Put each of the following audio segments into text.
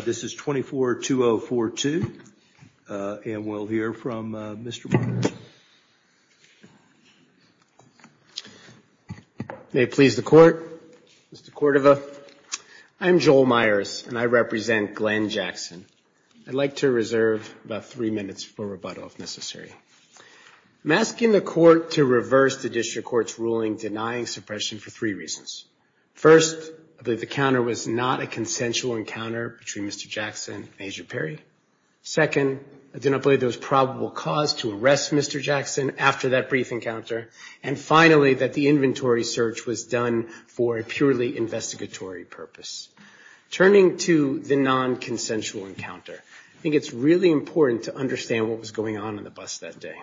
This is 242042, and we'll hear from Mr. Myers. May it please the Court, Mr. Cordova, I'm Joel Myers, and I represent Glenn Jackson. I'd like to reserve about three minutes for rebuttal, if necessary. I'm asking the Court to reverse the district court's ruling denying suppression for three reasons. First, I believe the counter was not a consensual encounter between Mr. Jackson and Agent Perry. Second, I do not believe there was probable cause to arrest Mr. Jackson after that brief encounter. And finally, that the inventory search was done for a purely investigatory purpose. Turning to the non-consensual encounter, I think it's really important to understand what was going on in the bus that day.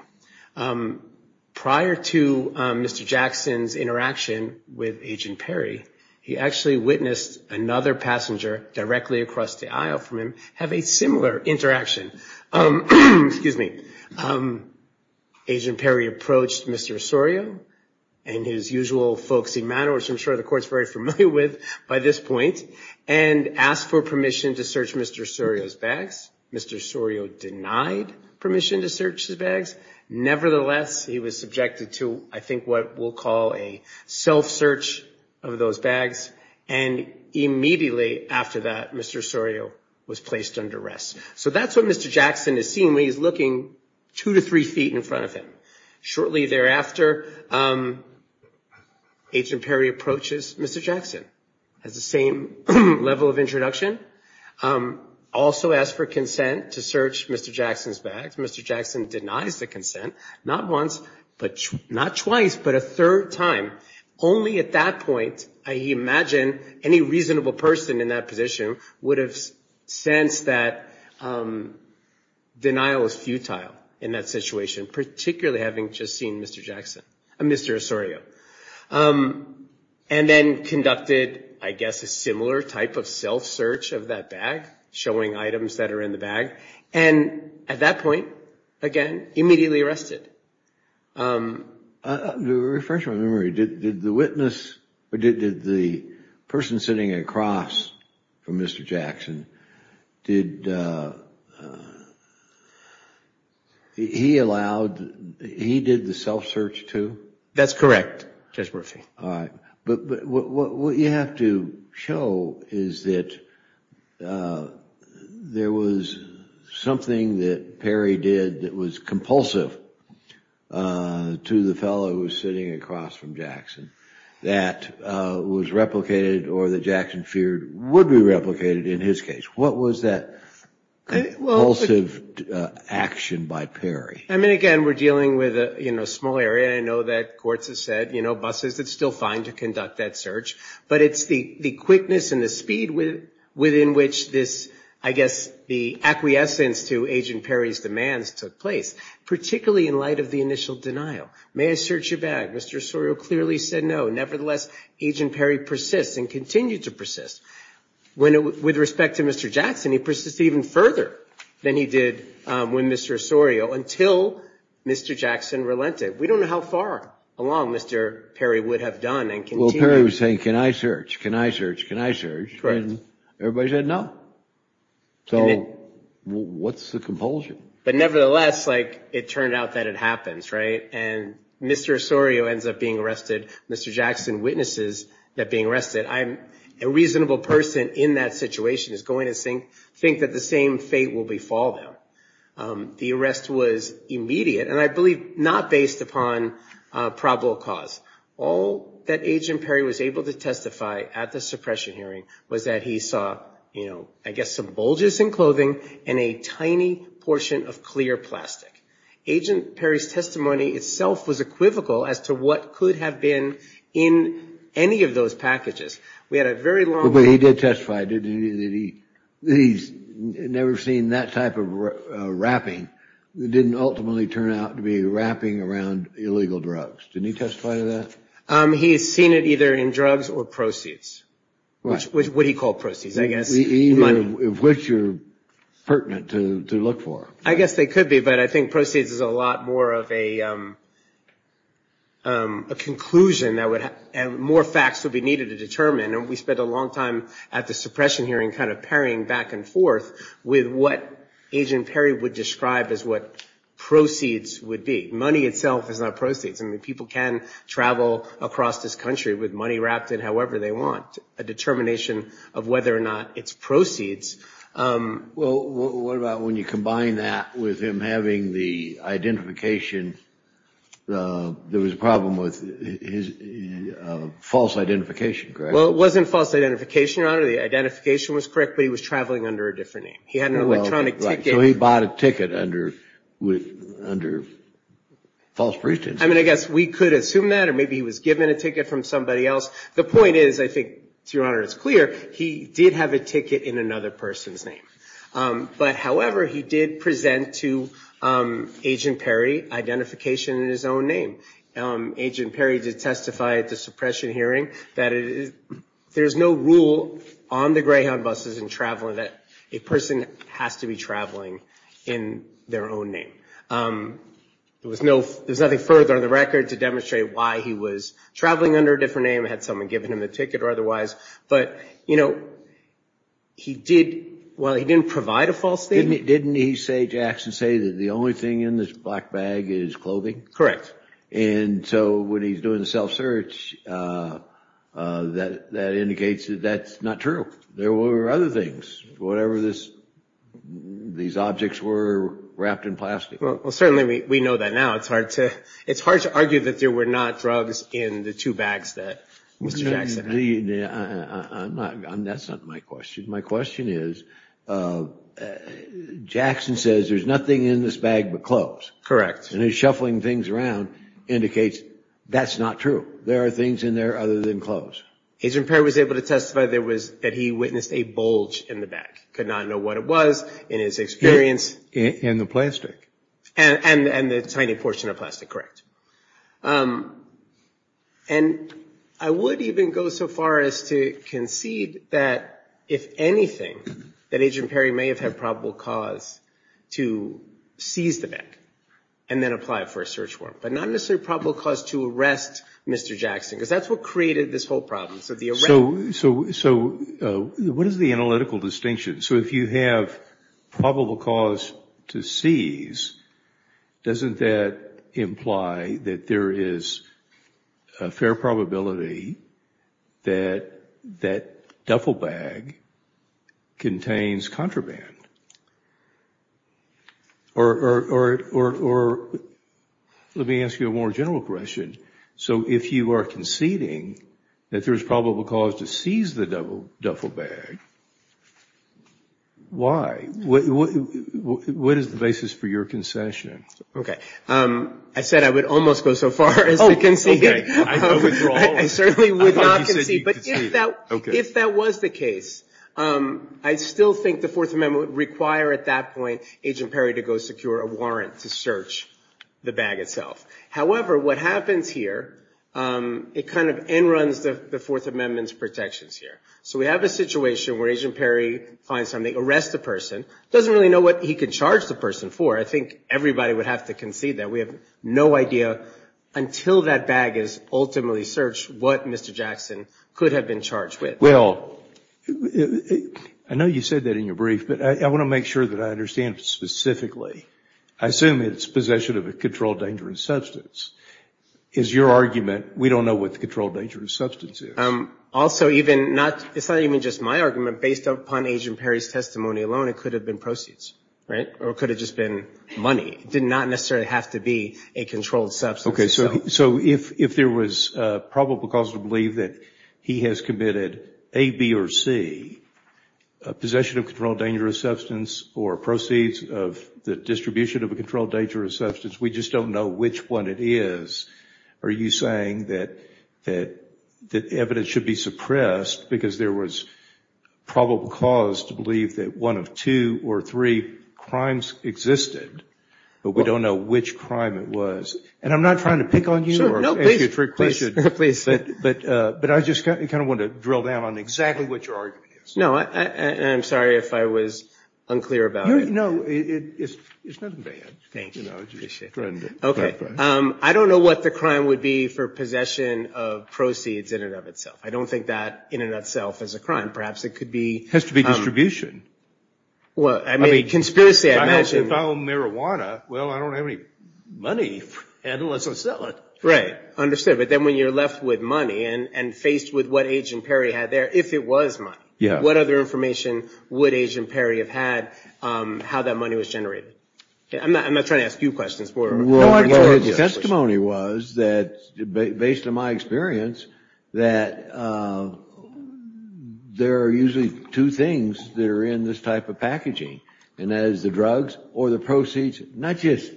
Prior to Mr. Jackson's interaction with Agent Perry, he actually witnessed another passenger directly across the aisle from him have a similar interaction. Agent Perry approached Mr. Osorio and his usual folksy manner, which I'm sure the Court's very familiar with by this point, and asked for permission to search Mr. Osorio's bags. Mr. Osorio denied permission to search his bags. Nevertheless, he was subjected to, I think, what we'll call a self-search of those bags. And immediately after that, Mr. Osorio was placed under arrest. So that's what Mr. Jackson is seeing when he's looking two to three feet in front of him. Shortly thereafter, Agent Perry approaches Mr. Jackson, has the same level of introduction, also asks for consent to search Mr. Jackson's bags. Mr. Jackson denies the consent, not once, not twice, but a third time. Only at that point, I imagine any reasonable person in that position would have sensed that denial was futile in that situation, particularly having just seen Mr. Osorio. And then conducted, I guess, a similar type of self-search of that bag, showing items that are in the bag. And at that point, again, immediately arrested. I'll refresh my memory. Did the witness, or did the person sitting across from Mr. Jackson, did he allow, he did the self-search too? That's correct, Judge Murphy. But what you have to show is that there was something that Perry did that was compulsive to the fellow who was sitting across from Jackson that was replicated or that Jackson feared would be replicated in his case. What was that compulsive action by Perry? I mean, again, we're dealing with a small area. I know that courts have said, you know, buses, it's still fine to conduct that search. But it's the quickness and the speed within which this, I guess, the acquiescence to Agent Perry's demands took place, particularly in light of the initial denial. May I search your bag? Mr. Osorio clearly said no. Nevertheless, Agent Perry persists and continued to persist. With respect to Mr. Jackson, he persisted even further than he did with Mr. Osorio until Mr. Jackson relented. We don't know how far along Mr. Perry would have done and continued. Well, Perry was saying, can I search? Can I search? Can I search? And everybody said no. So what's the compulsion? But nevertheless, like, it turned out that it happens, right? And Mr. Osorio ends up being arrested. Mr. Jackson witnesses that being arrested. I'm a reasonable person in that situation is going to think that the same fate will befall him. The arrest was immediate and I believe not based upon probable cause. All that Agent Perry was able to testify at the suppression hearing was that he saw, you know, I guess, some bulges in clothing and a tiny portion of clear plastic. Agent Perry's testimony itself was equivocal as to what could have been in any of those packages. We had a very long... He did testify that he's never seen that type of wrapping that didn't ultimately turn out to be wrapping around illegal drugs. Didn't he testify to that? He has seen it either in drugs or proceeds. What he called proceeds, I guess. Either of which are pertinent to look for. I guess they could be, but I think proceeds is a lot more of a conclusion that would have more facts would be needed to determine. And we spent a long time at the suppression hearing kind of parrying back and forth with what Agent Perry would describe as what proceeds would be. Money itself is not proceeds. I mean, people can travel across this country with money wrapped in however they want. A determination of whether or not it's proceeds. Well, what about when you combine that with him having the identification? There was a problem with his false identification, correct? It wasn't false identification, Your Honor. The identification was correct, but he was traveling under a different name. He had an electronic ticket. So he bought a ticket under false precedence. I mean, I guess we could assume that, or maybe he was given a ticket from somebody else. The point is, I think, Your Honor, it's clear. He did have a ticket in another person's name. However, he did present to Agent Perry identification in his own name. Agent Perry did testify at the suppression hearing that there's no rule on the Greyhound buses in traveling that a person has to be traveling in their own name. There's nothing further on the record to demonstrate why he was traveling under a different name, had someone given him a ticket or otherwise. But, you know, he did, well, he didn't provide a false name. Didn't he say, Jackson, say that the only thing in this black bag is clothing? Correct. And so when he's doing the self-search, that indicates that that's not true. There were other things. Whatever this, these objects were wrapped in plastic. Well, certainly we know that now. It's hard to, it's hard to argue that there were not drugs in the two bags that Mr. Jackson had. That's not my question. My question is, Jackson says there's nothing in this bag but clothes. Correct. And he's shuffling things around, indicates that's not true. There are things in there other than clothes. Agent Perry was able to testify there was, that he witnessed a bulge in the bag, could not know what it was, in his experience. In the plastic. And the tiny portion of plastic, correct. And I would even go so far as to concede that if anything, that Agent Perry may have had probable cause to seize the bag and then apply it for a search warrant. But not necessarily probable cause to arrest Mr. Jackson, because that's what created this whole problem. So what is the analytical distinction? So if you have probable cause to seize, doesn't that imply that there is a fair probability that that duffel bag contains contraband? Or let me ask you a more general question. So if you are conceding that there's probable cause to seize the duffel bag, why? What is the basis for your concession? OK. I said I would almost go so far as to concede. I certainly would not concede. But if that was the case, I still think the Fourth Amendment would require at that point Agent Perry to go secure a warrant to search the bag itself. However, what happens here, it kind of end runs the Fourth Amendment's protections here. So we have a situation where Agent Perry finds something, arrests the person, doesn't really know what he could charge the person for. I think everybody would have to concede that. We have no idea, until that bag is ultimately searched, what Mr. Jackson could have been charged with. Well, I know you said that in your brief, but I want to make sure that I understand specifically. I assume it's possession of a controlled dangerous substance. Is your argument, we don't know what the controlled dangerous substance is? Also, it's not even just my argument. Based upon Agent Perry's testimony alone, it could have been proceeds, right? Or it could have just been money. It did not necessarily have to be a controlled substance. So if there was probable cause to believe that he has committed A, B, or C, possession of a controlled dangerous substance or proceeds of the distribution of a controlled dangerous substance, we just don't know which one it is, are you saying that evidence should be suppressed because there was probable cause to believe that one of two or three crimes existed, but we don't know which crime it was? And I'm not trying to pick on you or ask you a trick question, but I just kind of want to drill down on exactly what your argument is. No, and I'm sorry if I was unclear about it. No, it's nothing bad. Thank you. Okay. I don't know what the crime would be for possession of proceeds in and of itself. I don't think that in and of itself is a crime. Perhaps it could be... Has to be distribution. Well, I mean, conspiracy, I imagine. If I own marijuana, well, I don't have any money and let's just sell it. Right. Understood. But then when you're left with money and faced with what Agent Perry had there, if it was money, what other information would Agent Perry have had how that money was generated? I'm not trying to ask you questions. Testimony was that, based on my experience, that there are usually two things that are in this type of packaging, and that is the drugs or the proceeds, not just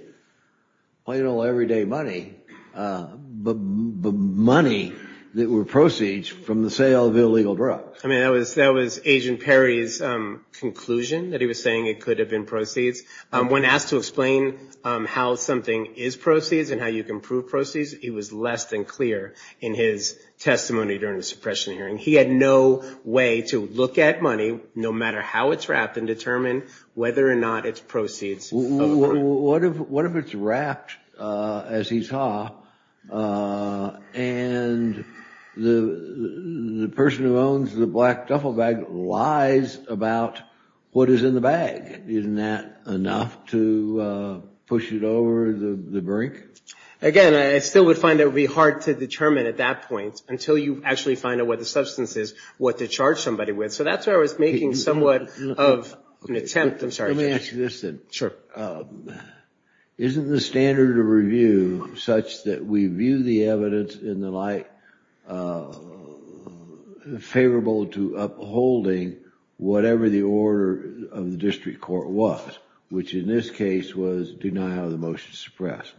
plain old everyday money, but money that were proceeds from the sale of illegal drugs. I mean, that was Agent Perry's conclusion that he was saying it could have been proceeds. When asked to explain how something is proceeds and how you can prove proceeds, it was less than clear in his testimony during the suppression hearing. He had no way to look at money, no matter how it's wrapped, and determine whether or not it's proceeds. What if it's wrapped, as he saw, and the person who owns the black duffel bag lies about what is in the bag? Isn't that enough to push it over the brink? Again, I still would find it would be hard to determine at that point until you actually find out what the substance is, what to charge somebody with. So that's why I was making somewhat of an attempt. I'm sorry, Judge. Let me ask you this then. Sure. Isn't the standard of review such that we view the evidence in the light favorable to upholding whatever the order of the district court was, which in this case was do not have the motion suppressed?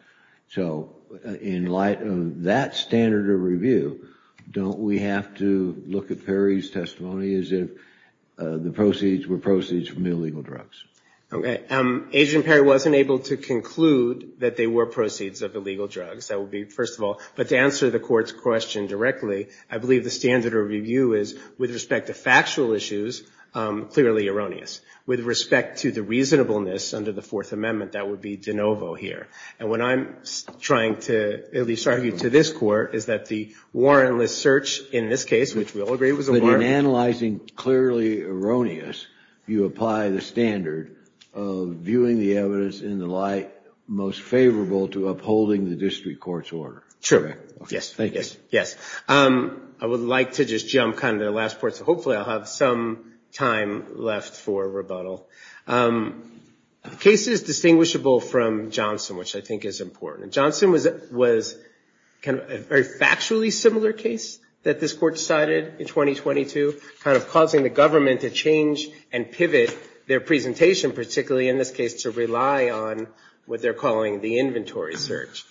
So in light of that standard of review, don't we have to look at Perry's testimony as if the proceeds were proceeds from illegal drugs? Okay. Agent Perry wasn't able to conclude that they were proceeds of illegal drugs. That would be first of all. But to answer the court's question directly, I believe the standard of review is, with respect to factual issues, clearly erroneous. With respect to the reasonableness under the Fourth Amendment, that would be de novo here. And what I'm trying to at least argue to this court is that the warrantless search in this case, which we all agree was a warrant. But in analyzing clearly erroneous, you apply the standard of viewing the evidence in the light most favorable to upholding the district court's order. True. Yes. Thank you. Yes. I would like to just jump kind of to the last part. So hopefully I'll have some time left for rebuttal. The case is distinguishable from Johnson, which I think is important. Johnson was kind of a very factually similar case that this court decided in 2022, kind of causing the government to change and pivot their presentation, particularly in this case to rely on what they're calling the inventory search.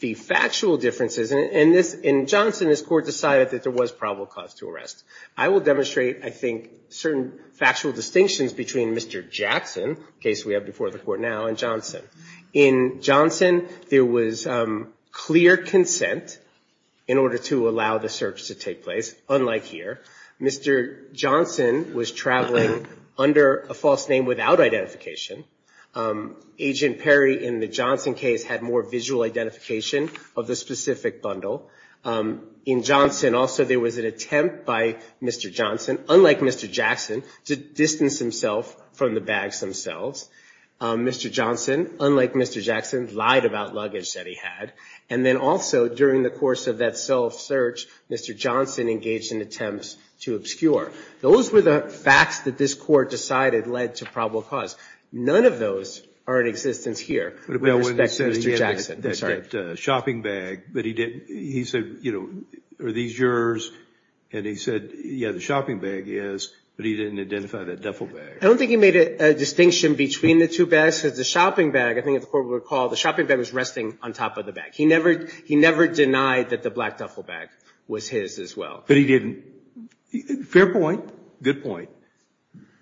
The factual differences, and in Johnson this court decided that there was probable cause to arrest. I will demonstrate, I think, certain factual distinctions between Mr. Jackson, the case we have before the court now, and Johnson. In Johnson, there was clear consent in order to allow the search to take place, unlike here. Mr. Johnson was traveling under a false name without identification. Agent Perry in the Johnson case had more visual identification of the specific bundle. In Johnson also there was an attempt by Mr. Johnson, unlike Mr. Jackson, to distance himself from the bags themselves. Mr. Johnson, unlike Mr. Jackson, lied about luggage that he had. And then also during the course of that self-search, Mr. Johnson engaged in attempts to Those were the facts that this court decided led to probable cause. None of those are in existence here with respect to Mr. Jackson. Shopping bag, but he didn't, he said, you know, are these yours? And he said, yeah, the shopping bag is, but he didn't identify that duffel bag. I don't think he made a distinction between the two bags, because the shopping bag, I think as the court would recall, the shopping bag was resting on top of the bag. He never denied that the black duffel bag was his as well. But he didn't. Fair point. Good point.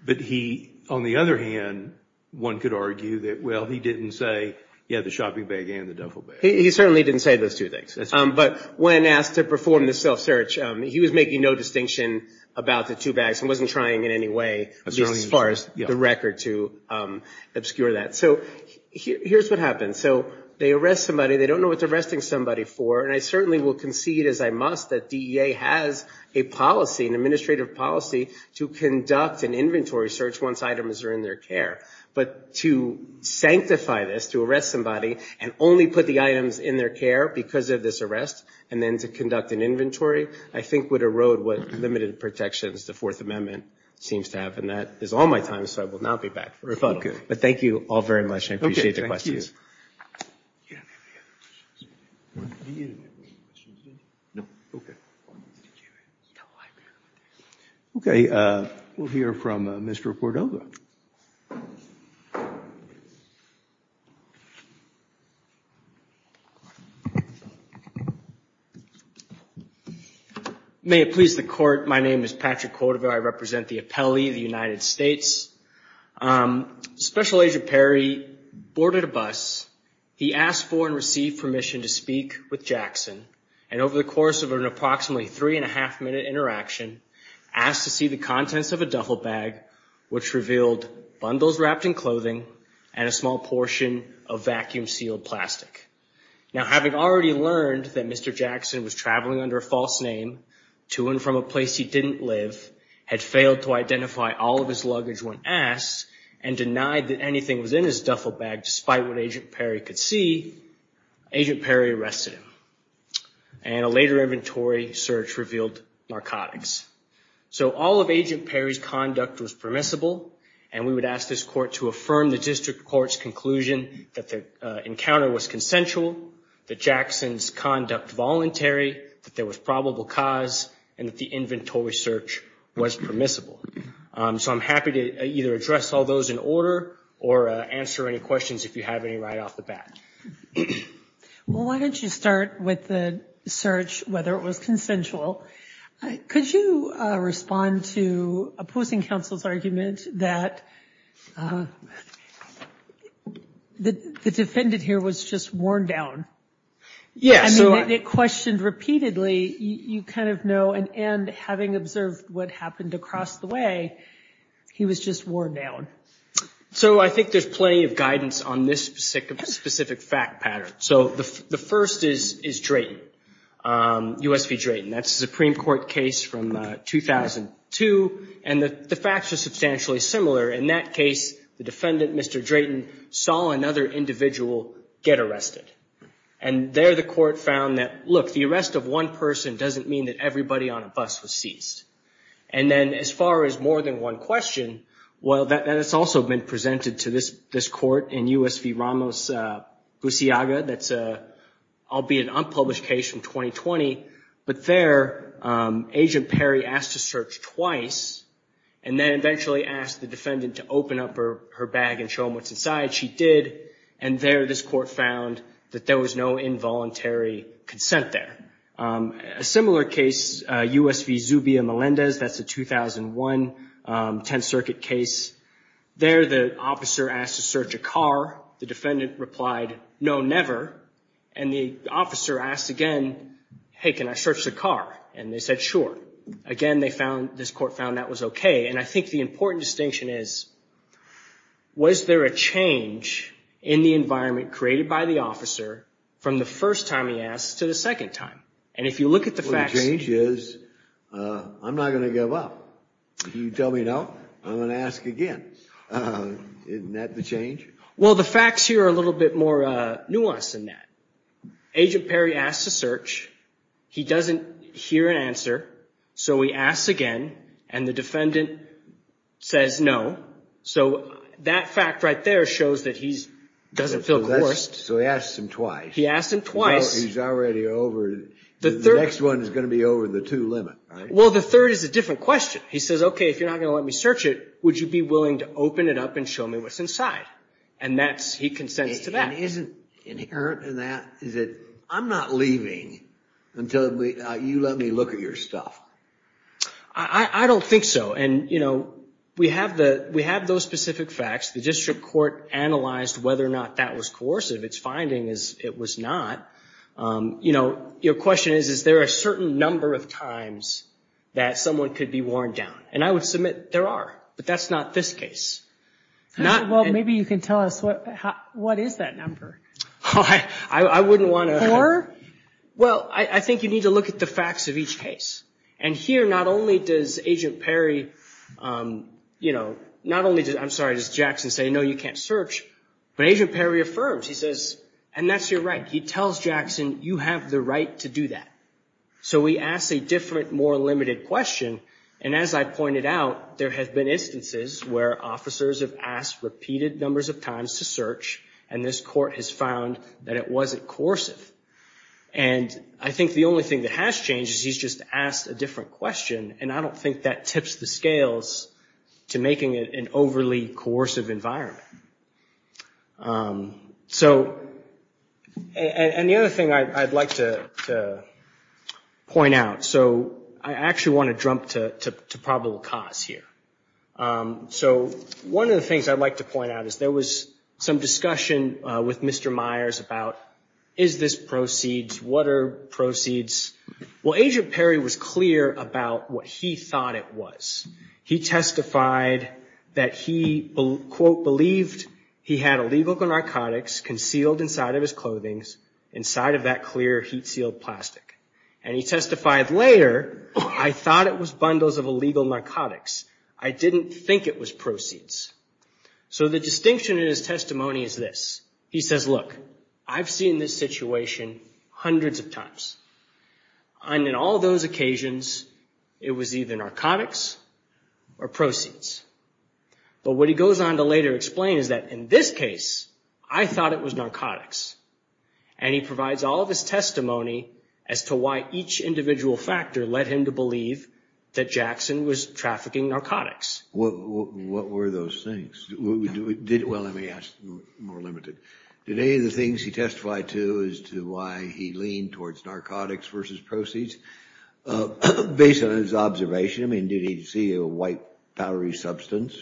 But he, on the other hand, one could argue that, well, he didn't say, yeah, the shopping bag and the duffel bag. He certainly didn't say those two things. But when asked to perform the self-search, he was making no distinction about the two bags and wasn't trying in any way, at least as far as the record to obscure that. So here's what happened. So they arrest somebody. They don't know what they're arresting somebody for. And I certainly will concede, as I must, that DEA has a policy, an administrative policy to conduct an inventory search once items are in their care. But to sanctify this, to arrest somebody, and only put the items in their care because of this arrest, and then to conduct an inventory, I think would erode what limited protections the Fourth Amendment seems to have. And that is all my time. So I will not be back for a rebuttal. But thank you all very much. I appreciate the questions. OK, thank you. OK, we'll hear from Mr. Cordova. May it please the court, my name is Patrick Cordova. I represent the appellee of the United States. Special Agent Perry boarded a bus. He asked for and received permission to speak with Jackson. And over the course of an approximately three and a half minute interaction, asked to see the contents of a duffel bag, which revealed bundles wrapped in clothing and a small portion of vacuum-sealed plastic. Now, having already learned that Mr. Jackson was traveling under a false name to and from a place he didn't live, had failed to identify all of his luggage when asked, and denied that anything was in his duffel bag despite what Agent Perry could see, Agent Perry arrested him. And a later inventory search revealed narcotics. So all of Agent Perry's conduct was permissible. And we would ask this court to affirm the district court's conclusion that the encounter was consensual, that Jackson's conduct voluntary, that there was probable cause, and that the inventory search was permissible. So I'm happy to either address all those in order or answer any questions if you have any right off the bat. Well, why don't you start with the search, whether it was consensual. Could you respond to opposing counsel's argument that the defendant here was just worn down? Yes. I mean, it questioned repeatedly. You kind of know, and having observed what happened across the way, he was just worn down. So I think there's plenty of guidance on this specific fact pattern. So the first is Drayton, USP Drayton. That's a Supreme Court case from 2002. And the facts are substantially similar. In that case, the defendant, Mr. Drayton, saw another individual get arrested. And there the court found that, look, the arrest of one person doesn't mean that everybody on a bus was seized. And then as far as more than one question, well, that has also been presented to this court in USP Ramos Busiaga. That's an unpublished case from 2020. But there, Agent Perry asked to search twice and then eventually asked the defendant to open up her bag and show him what's inside. She did. And there this court found that there was no involuntary consent there. A similar case, USP Zubia Melendez. That's a 2001 Tenth Circuit case. There the officer asked to search a car. The defendant replied, no, never. And the officer asked again, hey, can I search the car? And they said, sure. Again, they found, this court found that was OK. And I think the important distinction is, was there a change in the environment created by the officer from the first time he asked to the second time? And if you look at the facts. The change is, I'm not going to give up. If you tell me no, I'm going to ask again. Isn't that the change? Well, the facts here are a little bit more nuanced than that. Agent Perry asked to search. He doesn't hear an answer. So he asks again and the defendant says no. So that fact right there shows that he doesn't feel coerced. So he asked him twice. He asked him twice. He's already over. The next one is going to be over the two limit. Well, the third is a different question. He says, OK, if you're not going to let me search it, would you be willing to open it up and show me what's inside? And that's, he consents to that. And isn't inherent in that, is it, I'm not leaving until you let me look at your stuff. I don't think so. And, you know, we have the, we have those specific facts. The district court analyzed whether or not that was coercive. It's finding is it was not. You know, your question is, is there a certain number of times that someone could be worn down? And I would submit there are, but that's not this case. Well, maybe you can tell us what, what is that number? I wouldn't want to. Well, I think you need to look at the facts of each case. And here, not only does Agent Perry, you know, not only does, I'm sorry, does Jackson say, no, you can't search. But Agent Perry affirms. He says, and that's your right. He tells Jackson, you have the right to do that. So we ask a different, more limited question. And as I pointed out, there have been instances where officers have asked repeated numbers of times to search. And this court has found that it wasn't coercive. And I think the only thing that has changed is he's just asked a different question. And I don't think that tips the scales to making it an overly coercive environment. So, and the other thing I'd like to point out. So I actually want to jump to probable cause here. So one of the things I'd like to point out is there was some discussion with Mr. Myers about, is this proceeds? What are proceeds? Well, Agent Perry was clear about what he thought it was. He testified that he, quote, believed he had illegal narcotics concealed inside of his clothings, inside of that clear heat sealed plastic. And he testified later, I thought it was bundles of illegal narcotics. I didn't think it was proceeds. So the distinction in his testimony is this. He says, look, I've seen this situation hundreds of times. And in all those occasions, it was either narcotics or proceeds. But what he goes on to later explain is that in this case, I thought it was narcotics. And he provides all of his testimony as to why each individual factor led him to believe that Jackson was trafficking narcotics. What were those things? Well, let me ask more limited. Did any of the things he testified to as to why he leaned towards narcotics versus proceeds, based on his observation? I mean, did he see a white powdery substance?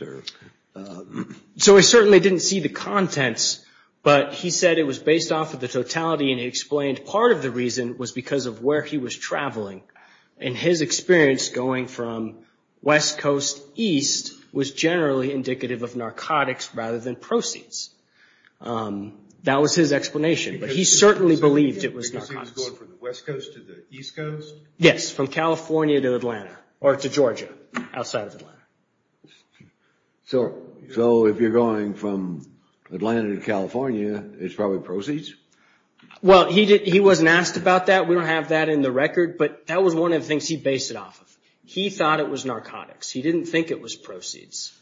So he certainly didn't see the contents, but he said it was based off of the totality. And he explained part of the reason was because of where he was traveling. And his experience going from West Coast East was generally indicative of narcotics rather than proceeds. That was his explanation. But he certainly believed it was narcotics. Because he was going from the West Coast to the East Coast? Yes, from California to Atlanta or to Georgia, outside of Atlanta. So if you're going from Atlanta to California, it's probably proceeds? Well, he wasn't asked about that. We don't have that in the record. But that was one of the things he based it off of. He thought it was narcotics. He didn't think it was proceeds.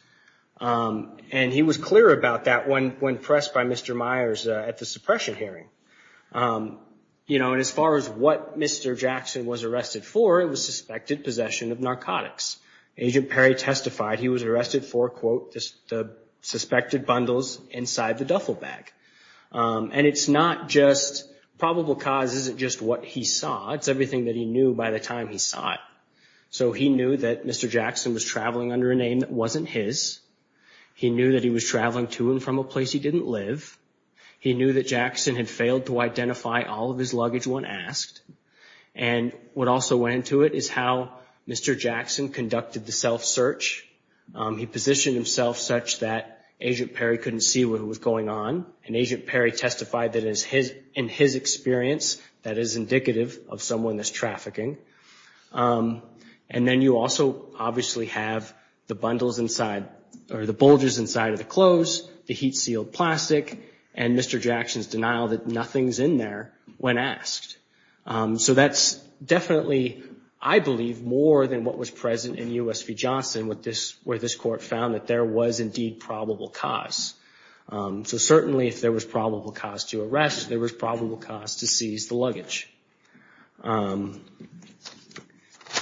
And he was clear about that when pressed by Mr. Myers at the suppression hearing. And as far as what Mr. Jackson was arrested for, it was suspected possession of narcotics. Agent Perry testified he was arrested for, quote, the suspected bundles inside the duffel bag. And it's not just probable cause. It isn't just what he saw. It's everything that he knew by the time he saw it. So he knew that Mr. Jackson was traveling under a name that wasn't his. He knew that he was traveling to and from a place he didn't live. He knew that Jackson had failed to identify all of his luggage when asked. And what also went into it is how Mr. Jackson conducted the self-search. He positioned himself such that Agent Perry couldn't see what was going on. And Agent Perry testified that in his experience, that is indicative of someone that's trafficking. And then you also obviously have the bundles inside or the bulges inside of the clothes, the heat-sealed plastic, and Mr. Jackson's denial that nothing's in there when asked. So that's definitely, I believe, more than what was present in U.S. v. Johnson, where this court found that there was indeed probable cause. So certainly if there was probable cause to arrest, there was probable cause to seize the luggage.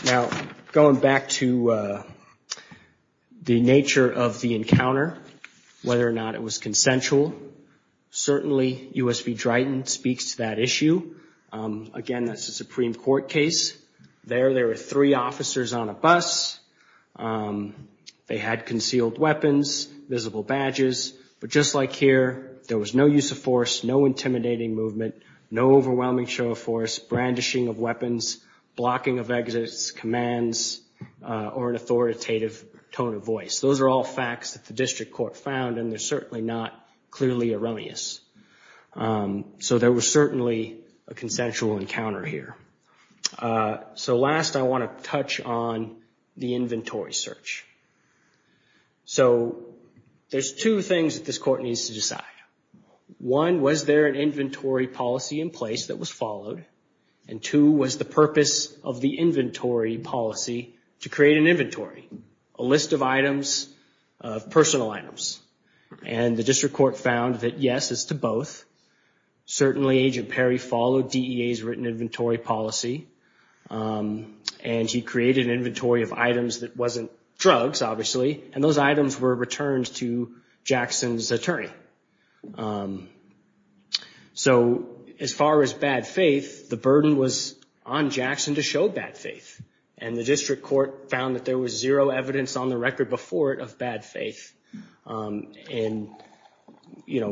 Now, going back to the nature of the encounter, whether or not it was consensual, certainly U.S. v. Dryden speaks to that issue. Again, that's a Supreme Court case. There, there were three officers on a bus. They had concealed weapons, visible badges. But just like here, there was no use of force, no intimidating movement, no overwhelming show of force, brandishing of weapons, blocking of exits, commands, or an authoritative tone of voice. Those are all facts that the district court found, and they're certainly not clearly erroneous. So there was certainly a consensual encounter here. So last, I want to touch on the inventory search. So there's two things that this court needs to decide. One, was there an inventory policy in place that was followed? And two, was the purpose of the inventory policy to create an inventory, a list of items, of personal items? And the district court found that yes, it's to both. Certainly, Agent Perry followed DEA's written inventory policy, and he created an inventory of items that wasn't drugs, obviously, and those items were returned to Jackson's attorney. So as far as bad faith, the burden was on Jackson to show bad faith, and the district court found that there was zero evidence on the record before it of bad faith. And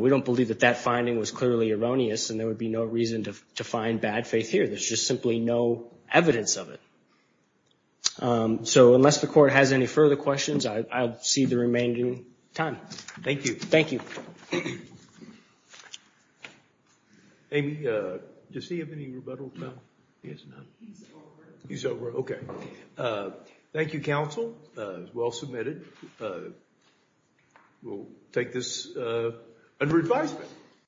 we don't believe that that finding was clearly erroneous, and there would be no reason to find bad faith here. There's just simply no evidence of it. So unless the court has any further questions, I'll see the remaining time. Thank you. Thank you. Amy, does he have any rebuttal time? He has none. He's over. He's over, okay. Thank you, counsel. Well submitted. We'll take this under advisement.